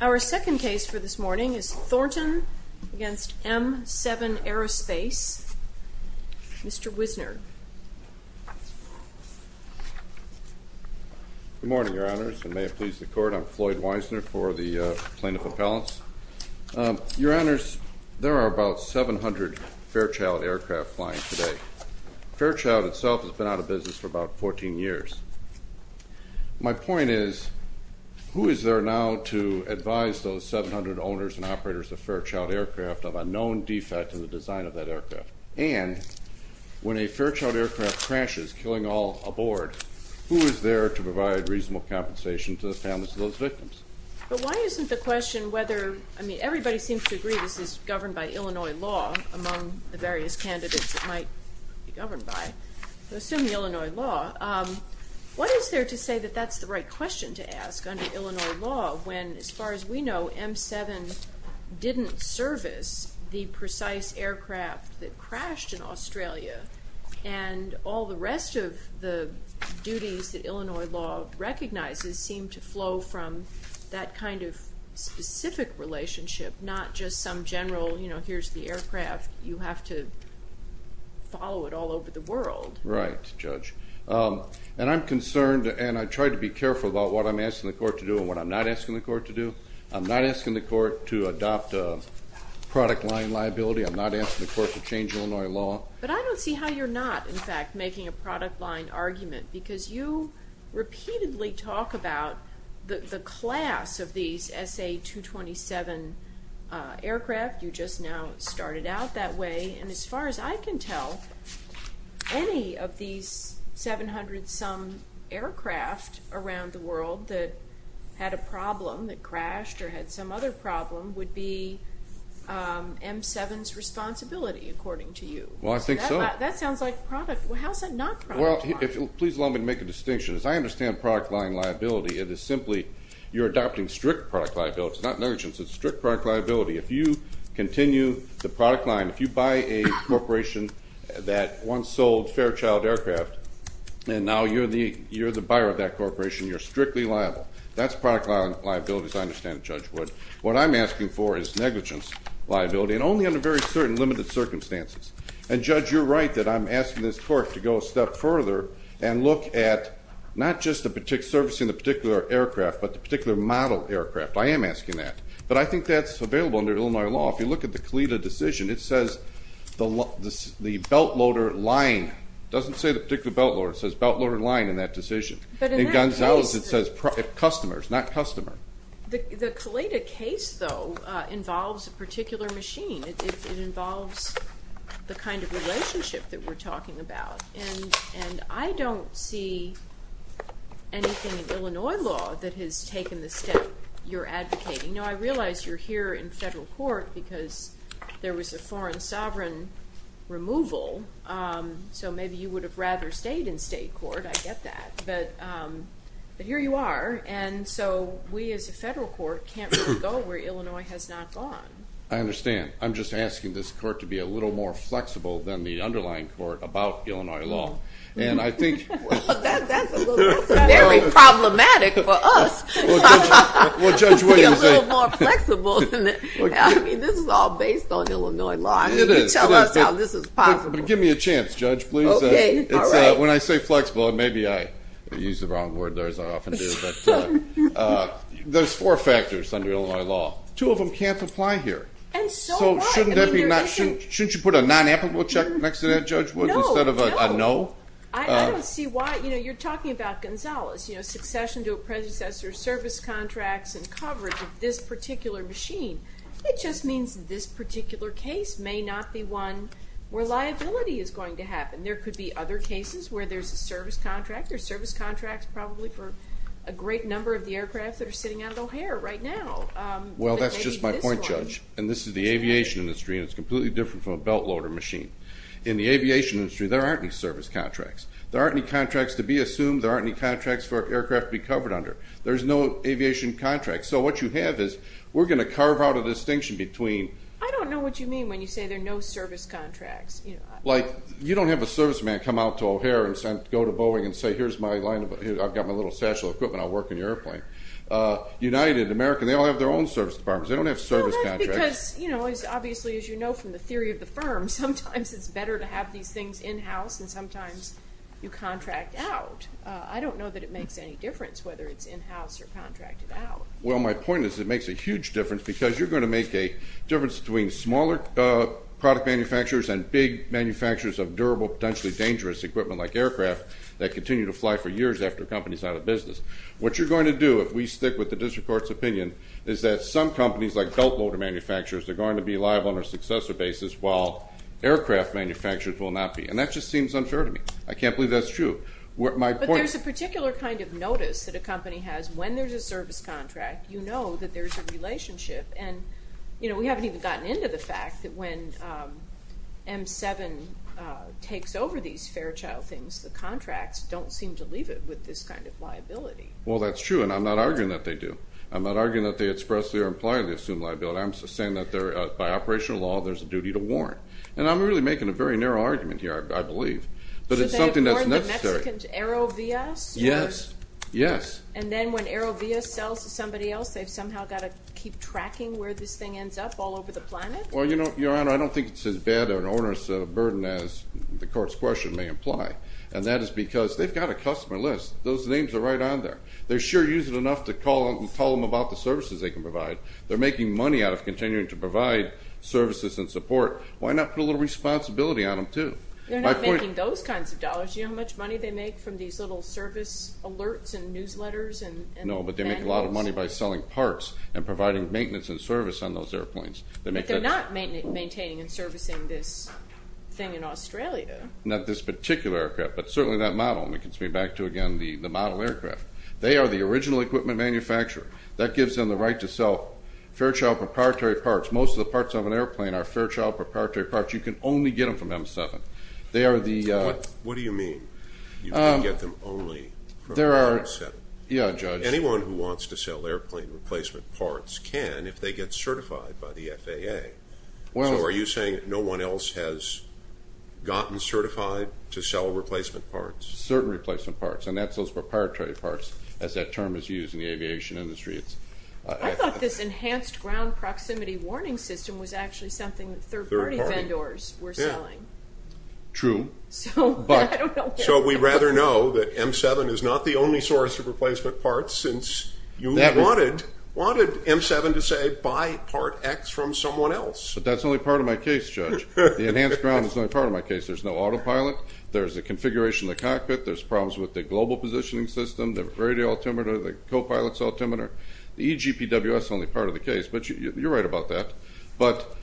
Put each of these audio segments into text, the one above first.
Our second case for this morning is Thornton v. M7 Aerospace. Mr. Wisner. Good morning, Your Honors, and may it please the Court. I'm Floyd Wisner for the Plaintiff Appellants. Your Honors, there are about 700 Fairchild aircraft flying today. Fairchild itself has been out of business for about 14 years. My point is, who is there now to advise those 700 owners and operators of Fairchild aircraft of a known defect in the design of that aircraft? And, when a Fairchild aircraft crashes, killing all aboard, who is there to provide reasonable compensation to the families of those victims? But why isn't the question whether, I mean, everybody seems to agree this is governed by Illinois law, among the various candidates it might be governed by, assuming Illinois law, what is there to say that that's the right question to ask under Illinois law when, as far as we know, M7 didn't service the precise aircraft that crashed in Australia, and all the rest of the duties that Illinois law recognizes seem to flow from that kind of specific relationship, not just some general, you know, follow it all over the world. Right, Judge. And I'm concerned, and I try to be careful about what I'm asking the Court to do and what I'm not asking the Court to do. I'm not asking the Court to adopt a product line liability. I'm not asking the Court to change Illinois law. But I don't see how you're not, in fact, making a product line argument, because you repeatedly talk about the class of SA-227 aircraft. You just now started out that way. And as far as I can tell, any of these 700-some aircraft around the world that had a problem, that crashed or had some other problem, would be M7's responsibility, according to you. Well, I think so. That sounds like product. How's that not product line? Well, please allow me to make a distinction. As I said, you're adopting strict product liability. It's not negligence. It's strict product liability. If you continue the product line, if you buy a corporation that once sold Fairchild aircraft, and now you're the buyer of that corporation, you're strictly liable. That's product liability, as I understand it, Judge Wood. What I'm asking for is negligence liability, and only under very certain limited circumstances. And Judge, you're right that I'm asking this Court to go a step further and look at not just the service in the particular aircraft, but the particular model aircraft. I am asking that. But I think that's available under Illinois law. If you look at the Caleda decision, it says the belt loader line. It doesn't say the particular belt loader. It says belt loader line in that decision. In Gonzalez, it says customers, not customer. The Caleda case, though, involves a particular machine. It involves the kind of relationship that we're talking about. And I don't see anything in Illinois law that has taken the step you're advocating. Now, I realize you're here in federal court because there was a foreign sovereign removal. So maybe you would have rather stayed in state court. I get that. But here you are. And so we as a federal court can't really go where Illinois has not gone. I understand. I'm just asking this court to be a little more flexible than the underlying court about Illinois law. And I think Well, that's very problematic for us to be a little more flexible. I mean, this is all based on Illinois law. It is. Tell us how this is possible. Give me a chance, Judge, please. When I say flexible, maybe I use the wrong word. There's four factors under Illinois law. Two of them can't apply here. So shouldn't you put a non-applicable check next to that, Judge, instead of a no? I don't see why. You know, you're talking about Gonzalez, you know, succession to a predecessor, service contracts, and coverage of this particular machine. It just means this particular case may not be one where liability is going to happen. There could be other cases where there's a service contract. There's service contracts probably for a great number of the aircraft that are sitting out of O'Hare right now. Well, that's just my point, Judge. And this is the aviation industry, and it's completely different from a belt loader machine. In the aviation industry, there aren't any service contracts. There aren't any contracts to be assumed. There aren't any contracts for aircraft to be covered under. There's no aviation contract. So what you have is, we're going to carve out a distinction between I don't know what you mean when you say there are no service contracts. Like, you don't have a serviceman come out to O'Hare and go to Boeing and say, here's my line of, I've got my little satchel of equipment. I'll work on your airplane. United, American, they all have their own service departments. They don't have service contracts. Well, that's because, you know, obviously, as you know from the theory of the firm, sometimes it's better to have these things in-house and sometimes you contract out. I don't know that it makes any difference whether it's in-house or contracted out. Well, my point is it makes a huge difference because you're going to make a difference between smaller product manufacturers and big manufacturers of durable, potentially dangerous equipment like aircraft that continue to fly for years after a company's out of business. What you're going to do, if we stick with the district court's opinion, is that some companies like belt motor manufacturers, they're going to be liable on a successor basis while aircraft manufacturers will not be. And that just seems unfair to me. I can't believe that's true. But there's a particular kind of notice that a company has when there's a service contract. You know that there's a relationship and, you know, we haven't even gotten into the fact that when M7 takes over these Fairchild things, the contracts don't seem to leave it with this kind of liability. Well, that's true and I'm not arguing that they do. I'm not arguing that they expressly or impliedly assume liability. I'm just saying that they're, by operational law, there's a duty to warrant. And I'm really making a very narrow argument here, I believe, but it's something that's necessary. Should they afford the Mexican Aerovia? Yes, yes. And then when Aerovia sells to somebody else, they've somehow got to keep tracking where this thing ends up all over the planet? Well, you know, it's as bad an onerous burden as the court's question may imply. And that is because they've got a customer list. Those names are right on there. They sure use it enough to call and tell them about the services they can provide. They're making money out of continuing to provide services and support. Why not put a little responsibility on them, too? They're not making those kinds of dollars. You know how much money they make from these little service alerts and newsletters? No, but they make a lot of money by selling parts and providing maintenance and service on those airplanes. But they're not maintaining and servicing this thing in Australia. Not this particular aircraft, but certainly that model. And we can speak back to, again, the model aircraft. They are the original equipment manufacturer. That gives them the right to sell Fairchild proprietary parts. Most of the parts of an airplane are Fairchild proprietary parts. You can only get them from M7. They are the... What do you mean? You can get them only from M7? Yeah, Judge. Anyone who wants to sell airplane replacement parts can if they get certified by the FAA. So are you saying no one else has gotten certified to sell replacement parts? Certain replacement parts. And that's those proprietary parts, as that term is used in the aviation industry. I thought this enhanced ground proximity warning system was actually something that third-party vendors were selling. True. So we rather know that M7 is not the only source of replacement parts, since you wanted M7 to say buy part X from someone else. But that's only part of my case, Judge. The enhanced ground is only part of my case. There's no autopilot. There's a configuration in the cockpit. There's problems with the global positioning system, the radio altimeter, the co-pilot's altimeter. The EGPWS is only part of the case, but you're right about that. But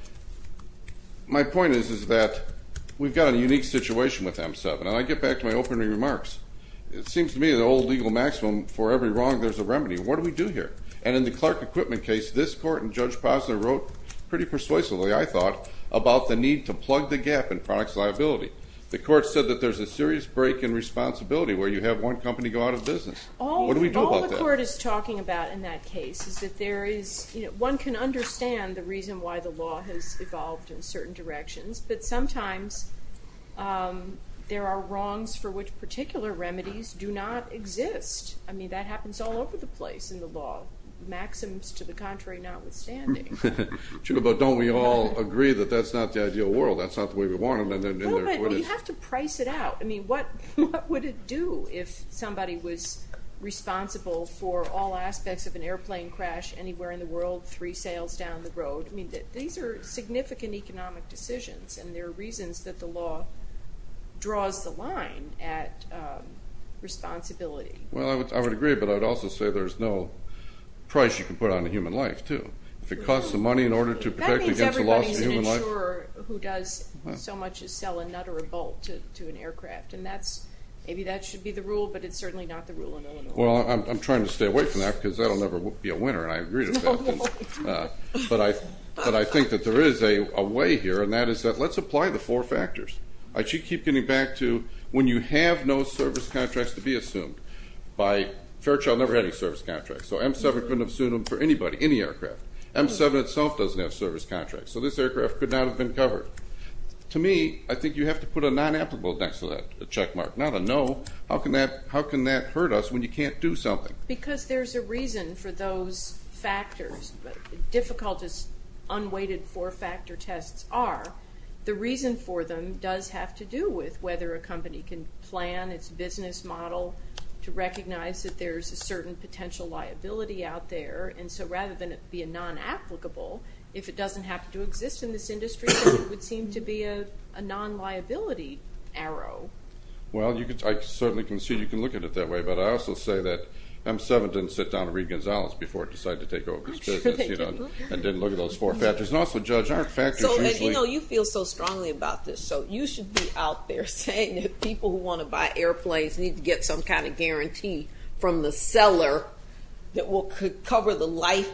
my point is that we've got a unique situation with M7. And I get back to my opening remarks. It seems to me the old legal maximum, for every wrong there's a remedy. What do we do here? And in the Clark equipment case, this court and Judge Posner wrote pretty persuasively, I thought, about the need to plug the gap in products liability. The court said that there's a serious break in responsibility where you have one company go out of business. All the court is talking about in that case is that one can understand the reason why the law evolved in certain directions. But sometimes there are wrongs for which particular remedies do not exist. I mean, that happens all over the place in the law, maxims to the contrary notwithstanding. But don't we all agree that that's not the ideal world? That's not the way we want it. No, but you have to price it out. I mean, what would it do if somebody was responsible for all aspects of an airplane crash anywhere in the world, three sails down the road? I mean, these are significant economic decisions and there are reasons that the law draws the line at responsibility. Well, I would agree, but I'd also say there's no price you can put on a human life too. If it costs the money in order to protect against the loss of human life. That means everybody's an insurer who does so much as sell a nut or a bolt to an aircraft and that's, maybe that should be the rule, but it's certainly not the rule in Illinois. Well, I'm trying to stay away from that because that'll never be a winner and I agree to that, but I think that there is a way here and that is that let's apply the four factors. I keep getting back to when you have no service contracts to be assumed. Fairchild never had any service contracts, so M7 couldn't have sued them for anybody, any aircraft. M7 itself doesn't have service contracts, so this aircraft could not have been covered. To me, I think you have to put a non-applicable next to that check mark, not a no. How can that hurt us when you can't do something? Because there's a reason for those factors. Difficult as unweighted four-factor tests are, the reason for them does have to do with whether a company can plan its business model to recognize that there's a certain potential liability out there and so rather than it be a non-applicable, if it doesn't have to exist in this industry, it would seem to be a non-liability arrow. Well, I certainly can see you can look at it that way, but I also say that M7 didn't sit down to read Gonzalez before it decided to take over his business and didn't look at those four factors and also Judge, aren't factors usually... And you know, you feel so strongly about this, so you should be out there saying that people who want to buy airplanes need to get some kind of guarantee from the seller that will cover the life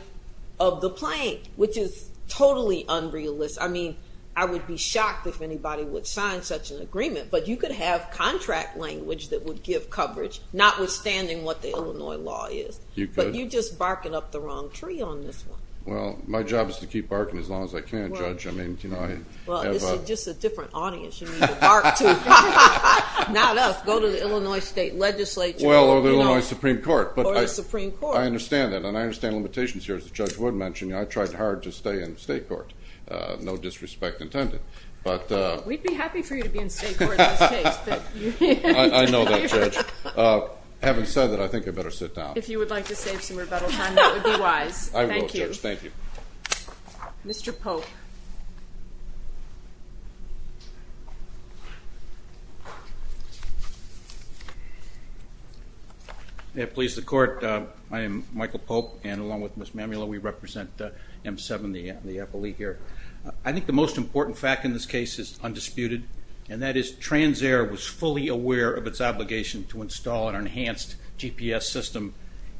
of the plane, which is totally unrealistic. I mean, I would be shocked if anybody would sign such an agreement, but you could have contract language that would give coverage, notwithstanding what the Illinois law is. You could. But you're just barking up the wrong tree on this one. Well, my job is to keep barking as long as I can, Judge. I mean, you know, I have a... Well, it's just a different audience you need to bark to. Not us. Go to the Illinois State Legislature. Well, or the Illinois Supreme Court. Or the Supreme Court. I understand that, and I understand limitations here. As Judge Wood mentioned, I tried hard to stay in state court. No disrespect intended, but... We'd be happy for you to be in state court in this case. I know that, Judge. Having said that, I think I better sit down. If you would like to save some rebuttal time, that would be wise. I will, Judge. Thank you. Mr. Pope. May it please the Court. I am Michael Pope, and along with Ms. Mamula, we represent M7, the appellee here. I think the most important fact in this case is undisputed, and that is TransAire was fully aware of its obligation to install an enhanced GPS system,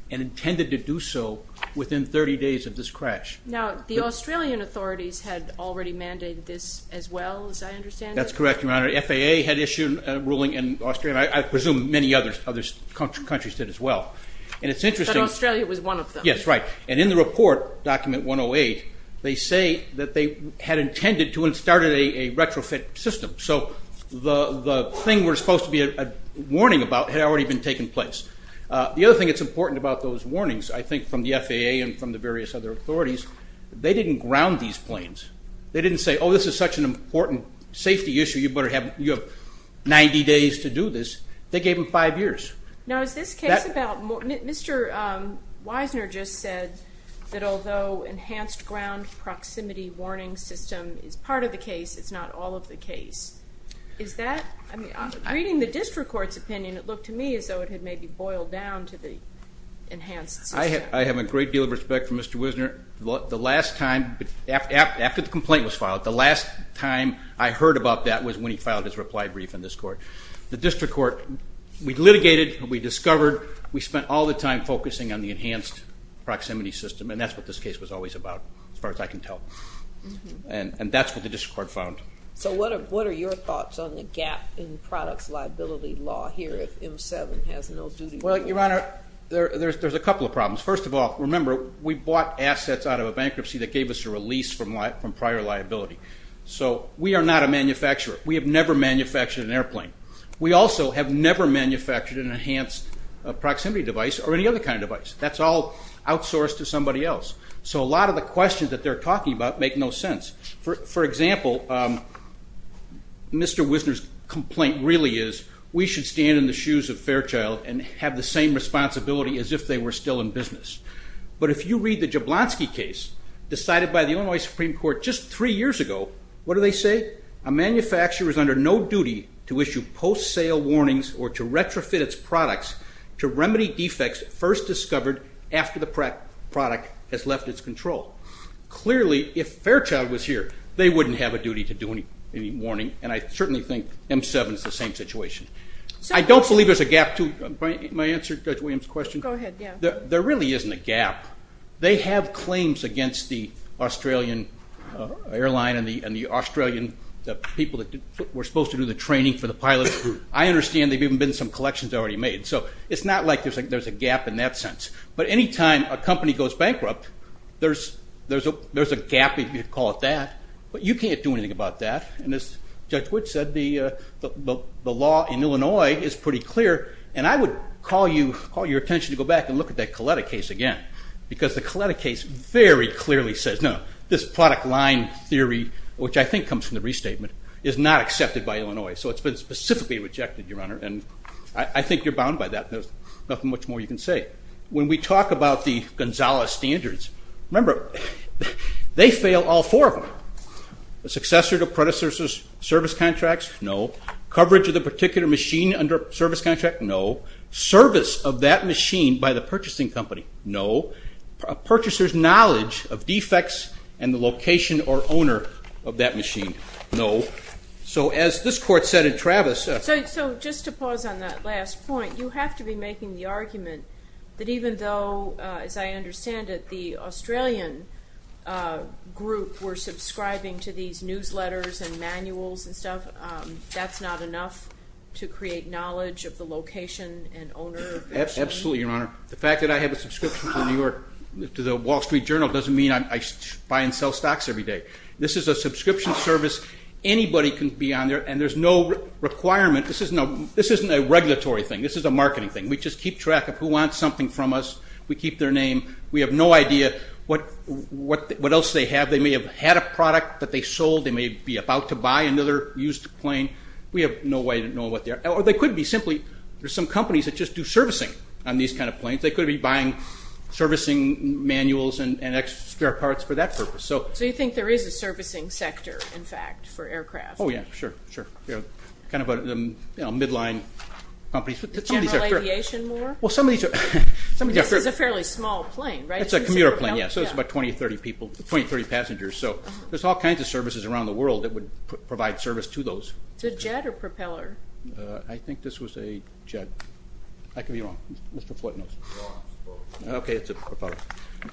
and intended to do so within 30 days of this crash. Now, the Australian authorities had already mandated this as well, as I understand it? That's correct, Your Honor. FAA had issued a ruling in Australia, and I presume many other countries did as well. But Australia was one of them. Yes, right. And in the report, document 108, they say that they had intended to and started a retrofit system. So the thing we're supposed to be warning about had already been taking place. The other thing that's important about those warnings, I think from the FAA and from the various other authorities, they didn't ground these planes. They didn't say, oh, this is such an important safety issue. You have 90 days to do this. They gave them five years. Now, is this case about, Mr. Wisner just said that although enhanced ground proximity warning system is part of the case, it's not all of the case. Is that, I mean, reading the district court's opinion, it looked to me as though it had maybe boiled down to the enhanced system. I have a great deal of respect for Mr. Wisner. The last time, after the complaint was filed, the last time I heard about that was when he filed his reply brief in this court. The district court, we litigated, we discovered, we spent all the time focusing on the enhanced proximity system, and that's what this case was always about, as far as I can tell. And that's what the district court found. So what are your thoughts on the gap in products liability law here if M7 has no duty? Well, Your Honor, there's a couple of problems. First of all, remember, we bought assets out of a bankruptcy that gave us a release from prior liability. So we are not a manufacturer. We have never manufactured an airplane. We also have never manufactured an enhanced proximity device or any other kind of device. That's all outsourced to somebody else. So a lot of the questions that they're talking about make no sense. For example, Mr. Wisner's complaint really is we should stand in the shoes of Fairchild and have the same responsibility as if they were still in business. But if you read the Jablonski case, decided by the Illinois Supreme Court just three years ago, what do they say? A manufacturer is under no duty to issue post-sale warnings or to retrofit its products to remedy defects first discovered after the product has left its control. Clearly, if Fairchild was here, they wouldn't have a duty to do any warning, and I certainly think M7 is the same situation. I don't believe there's a gap. They have claims against the Australian airline and the Australian people that were supposed to do the training for the pilots. I understand there have even been some collections already made. So it's not like there's a gap in that sense. But any time a company goes bankrupt, there's a gap, if you call it that. But you can't do anything about that. And as Judge Wood said, the law in Illinois is pretty clear. And I would call your attention to go back and look at that Coletta case again, because the Coletta case very clearly says, no, this product line theory, which I think comes from the restatement, is not accepted by Illinois. So it's been specifically rejected, Your Honor, and I think you're bound by that. There's nothing much more you can say. When we talk about the Gonzales standards, remember, they fail all four of them. The successor to predecessor's service contracts, no. Coverage of the particular machine under service contract, no. Service of that machine by the purchasing company, no. A purchaser's knowledge of defects and the location or owner of that machine, no. So as this Court said, and Travis- So just to pause on that last point, you have to be making the argument that even though, as I understand it, the Australian group were subscribing to these newsletters and manuals and stuff, that's not enough to create knowledge of the location and owner of the machine? Absolutely, Your Honor. The fact that I have a subscription to the Wall Street Journal doesn't mean I buy and sell stocks every day. This is a subscription service. Anybody can be on there, and there's no requirement. This isn't a regulatory thing. This is a marketing thing. We just keep track of who wants something from us. We keep their name. We have no idea what else they have. They may have had a product that they sold. They may be about to buy another used plane. We have no way of knowing what they are. Or they could be simply, there's some companies that just do servicing on these kind of planes. They could be buying servicing manuals and extra parts for that purpose. So you think there is a servicing sector, in fact, for aircraft? Oh yeah, sure, kind of a midline company. General aviation more? This is a fairly small plane, right? It's a commuter plane, yes. It's about 20 or 30 passengers. So there's all kinds of services around the world that would provide service to those. Is it a jet or propeller? I think this was a jet. I could be wrong. Mr. Floyd knows. Okay, it's a propeller.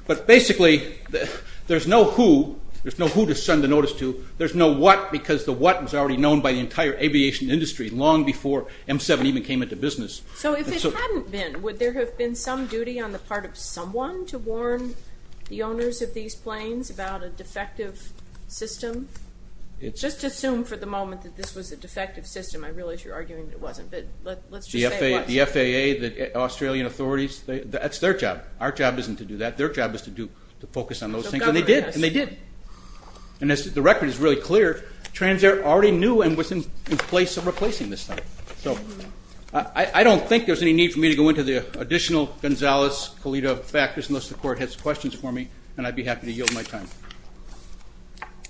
But basically, there's no who, there's no who to by the entire aviation industry long before M7 even came into business. So if it hadn't been, would there have been some duty on the part of someone to warn the owners of these planes about a defective system? Just assume for the moment that this was a defective system. I realize you're arguing that it wasn't, but let's just say it was. The FAA, the Australian authorities, that's their job. Our job isn't to do that. Their job is to focus on those things. And they did. And they did. And as the record is really clear, Transair already knew and was in place of replacing this thing. So I don't think there's any need for me to go into the additional Gonzalez-Colito factors unless the court has questions for me, and I'd be happy to yield my time.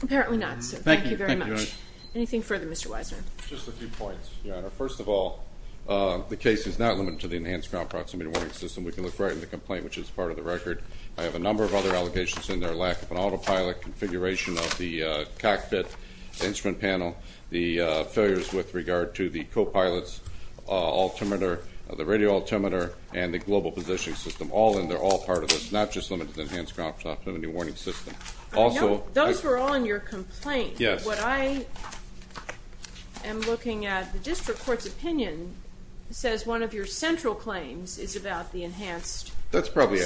Apparently not, sir. Thank you very much. Anything further, Mr. Weisner? Just a few points, Your Honor. First of all, the case is not limited to the enhanced ground proximity warning system. We can look right at the complaint, which is part of the record. I have a number of other allegations in there, lack of an autopilot, configuration of the cockpit, the instrument panel, the failures with regard to the co-pilots, altimeter, the radio altimeter, and the global positioning system. All in there, all part of this, not just limited to the enhanced ground proximity warning system. Those were all in your complaint. What I am looking at, the district court's opinion says one of your central claims is about the enhanced system. That's probably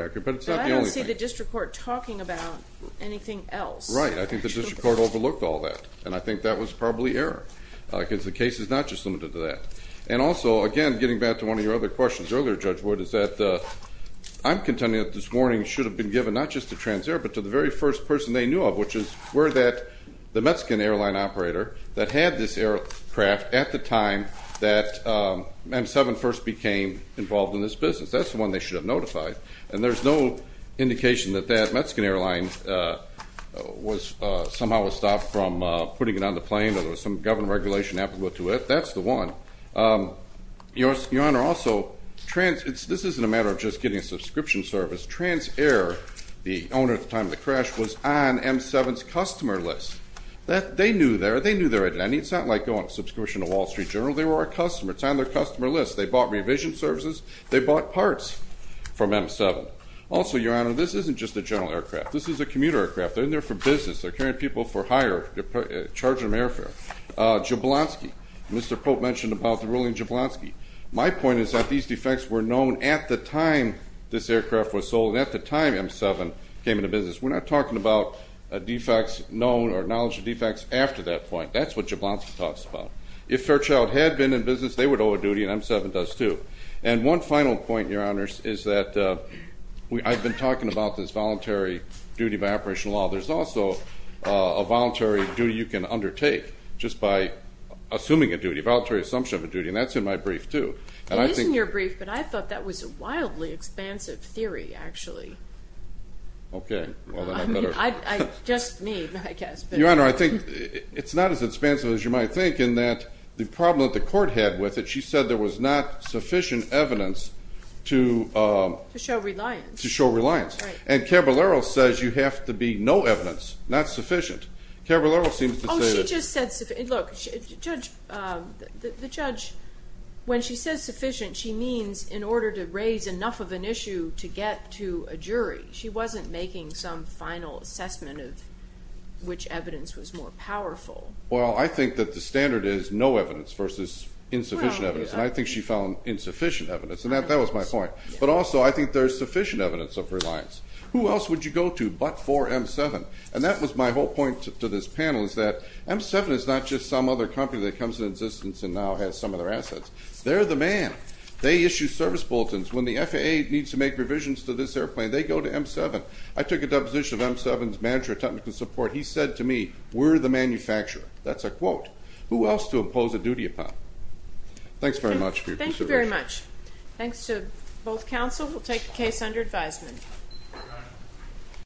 accurate, but it's not the only thing. But I don't see the district court talking about anything else. Right. I think the district court overlooked all that, and I think that was probably error, because the case is not just limited to that. And also, again, getting back to one of your other questions earlier, Judge Wood, is that I'm contending that this warning should have been given not just to Transair, but to the very first person they knew of, which is where the Mexican airline operator that had this aircraft at the time that M7 first became involved in this business. That's the one they should have notified. And there's no indication that that Mexican airline somehow was stopped from putting it on the plane, or there was some government regulation applicable to it. That's the one. Your Honor, also, this isn't a matter of just getting a subscription service. Transair, the owner at the time of the crash, was on M7's customer list. They knew their identity. It's not like going on a subscription to Wall Street Journal. They were our customer. It's on their services. They bought parts from M7. Also, Your Honor, this isn't just a general aircraft. This is a commuter aircraft. They're in there for business. They're carrying people for hire. They're charging them airfare. Jablonski. Mr. Pope mentioned about the ruling Jablonski. My point is that these defects were known at the time this aircraft was sold and at the time M7 came into business. We're not talking about defects known or knowledge of defects after that point. That's what Jablonski talks about. If Fairchild had been in business, they would have known. One final point, Your Honor, is that I've been talking about this voluntary duty by operational law. There's also a voluntary duty you can undertake just by assuming a duty, a voluntary assumption of a duty. That's in my brief, too. It is in your brief, but I thought that was a wildly expansive theory, actually. Just me, I guess. Your Honor, I think it's not as expansive as you might think in that the problem that the court had with it, she said there was not sufficient evidence to show reliance. And Caballero says you have to be no evidence, not sufficient. Caballero seems to say that. Oh, she just said sufficient. Look, the judge, when she says sufficient, she means in order to raise enough of an issue to get to a jury. She wasn't making some final assessment of which evidence was more powerful. Well, I think that the standard is no evidence versus insufficient evidence, and I think she found insufficient evidence, and that was my point. But also, I think there's sufficient evidence of reliance. Who else would you go to but for M7? And that was my whole point to this panel is that M7 is not just some other company that comes into existence and now has some of their assets. They're the man. They issue service bulletins. When the FAA needs to make revisions to this I took a deposition of M7's manager of technical support. He said to me, we're the manufacturer. That's a quote. Who else to impose a duty upon? Thanks very much. Thank you very much. Thanks to both counsel. We'll take the case under advisement.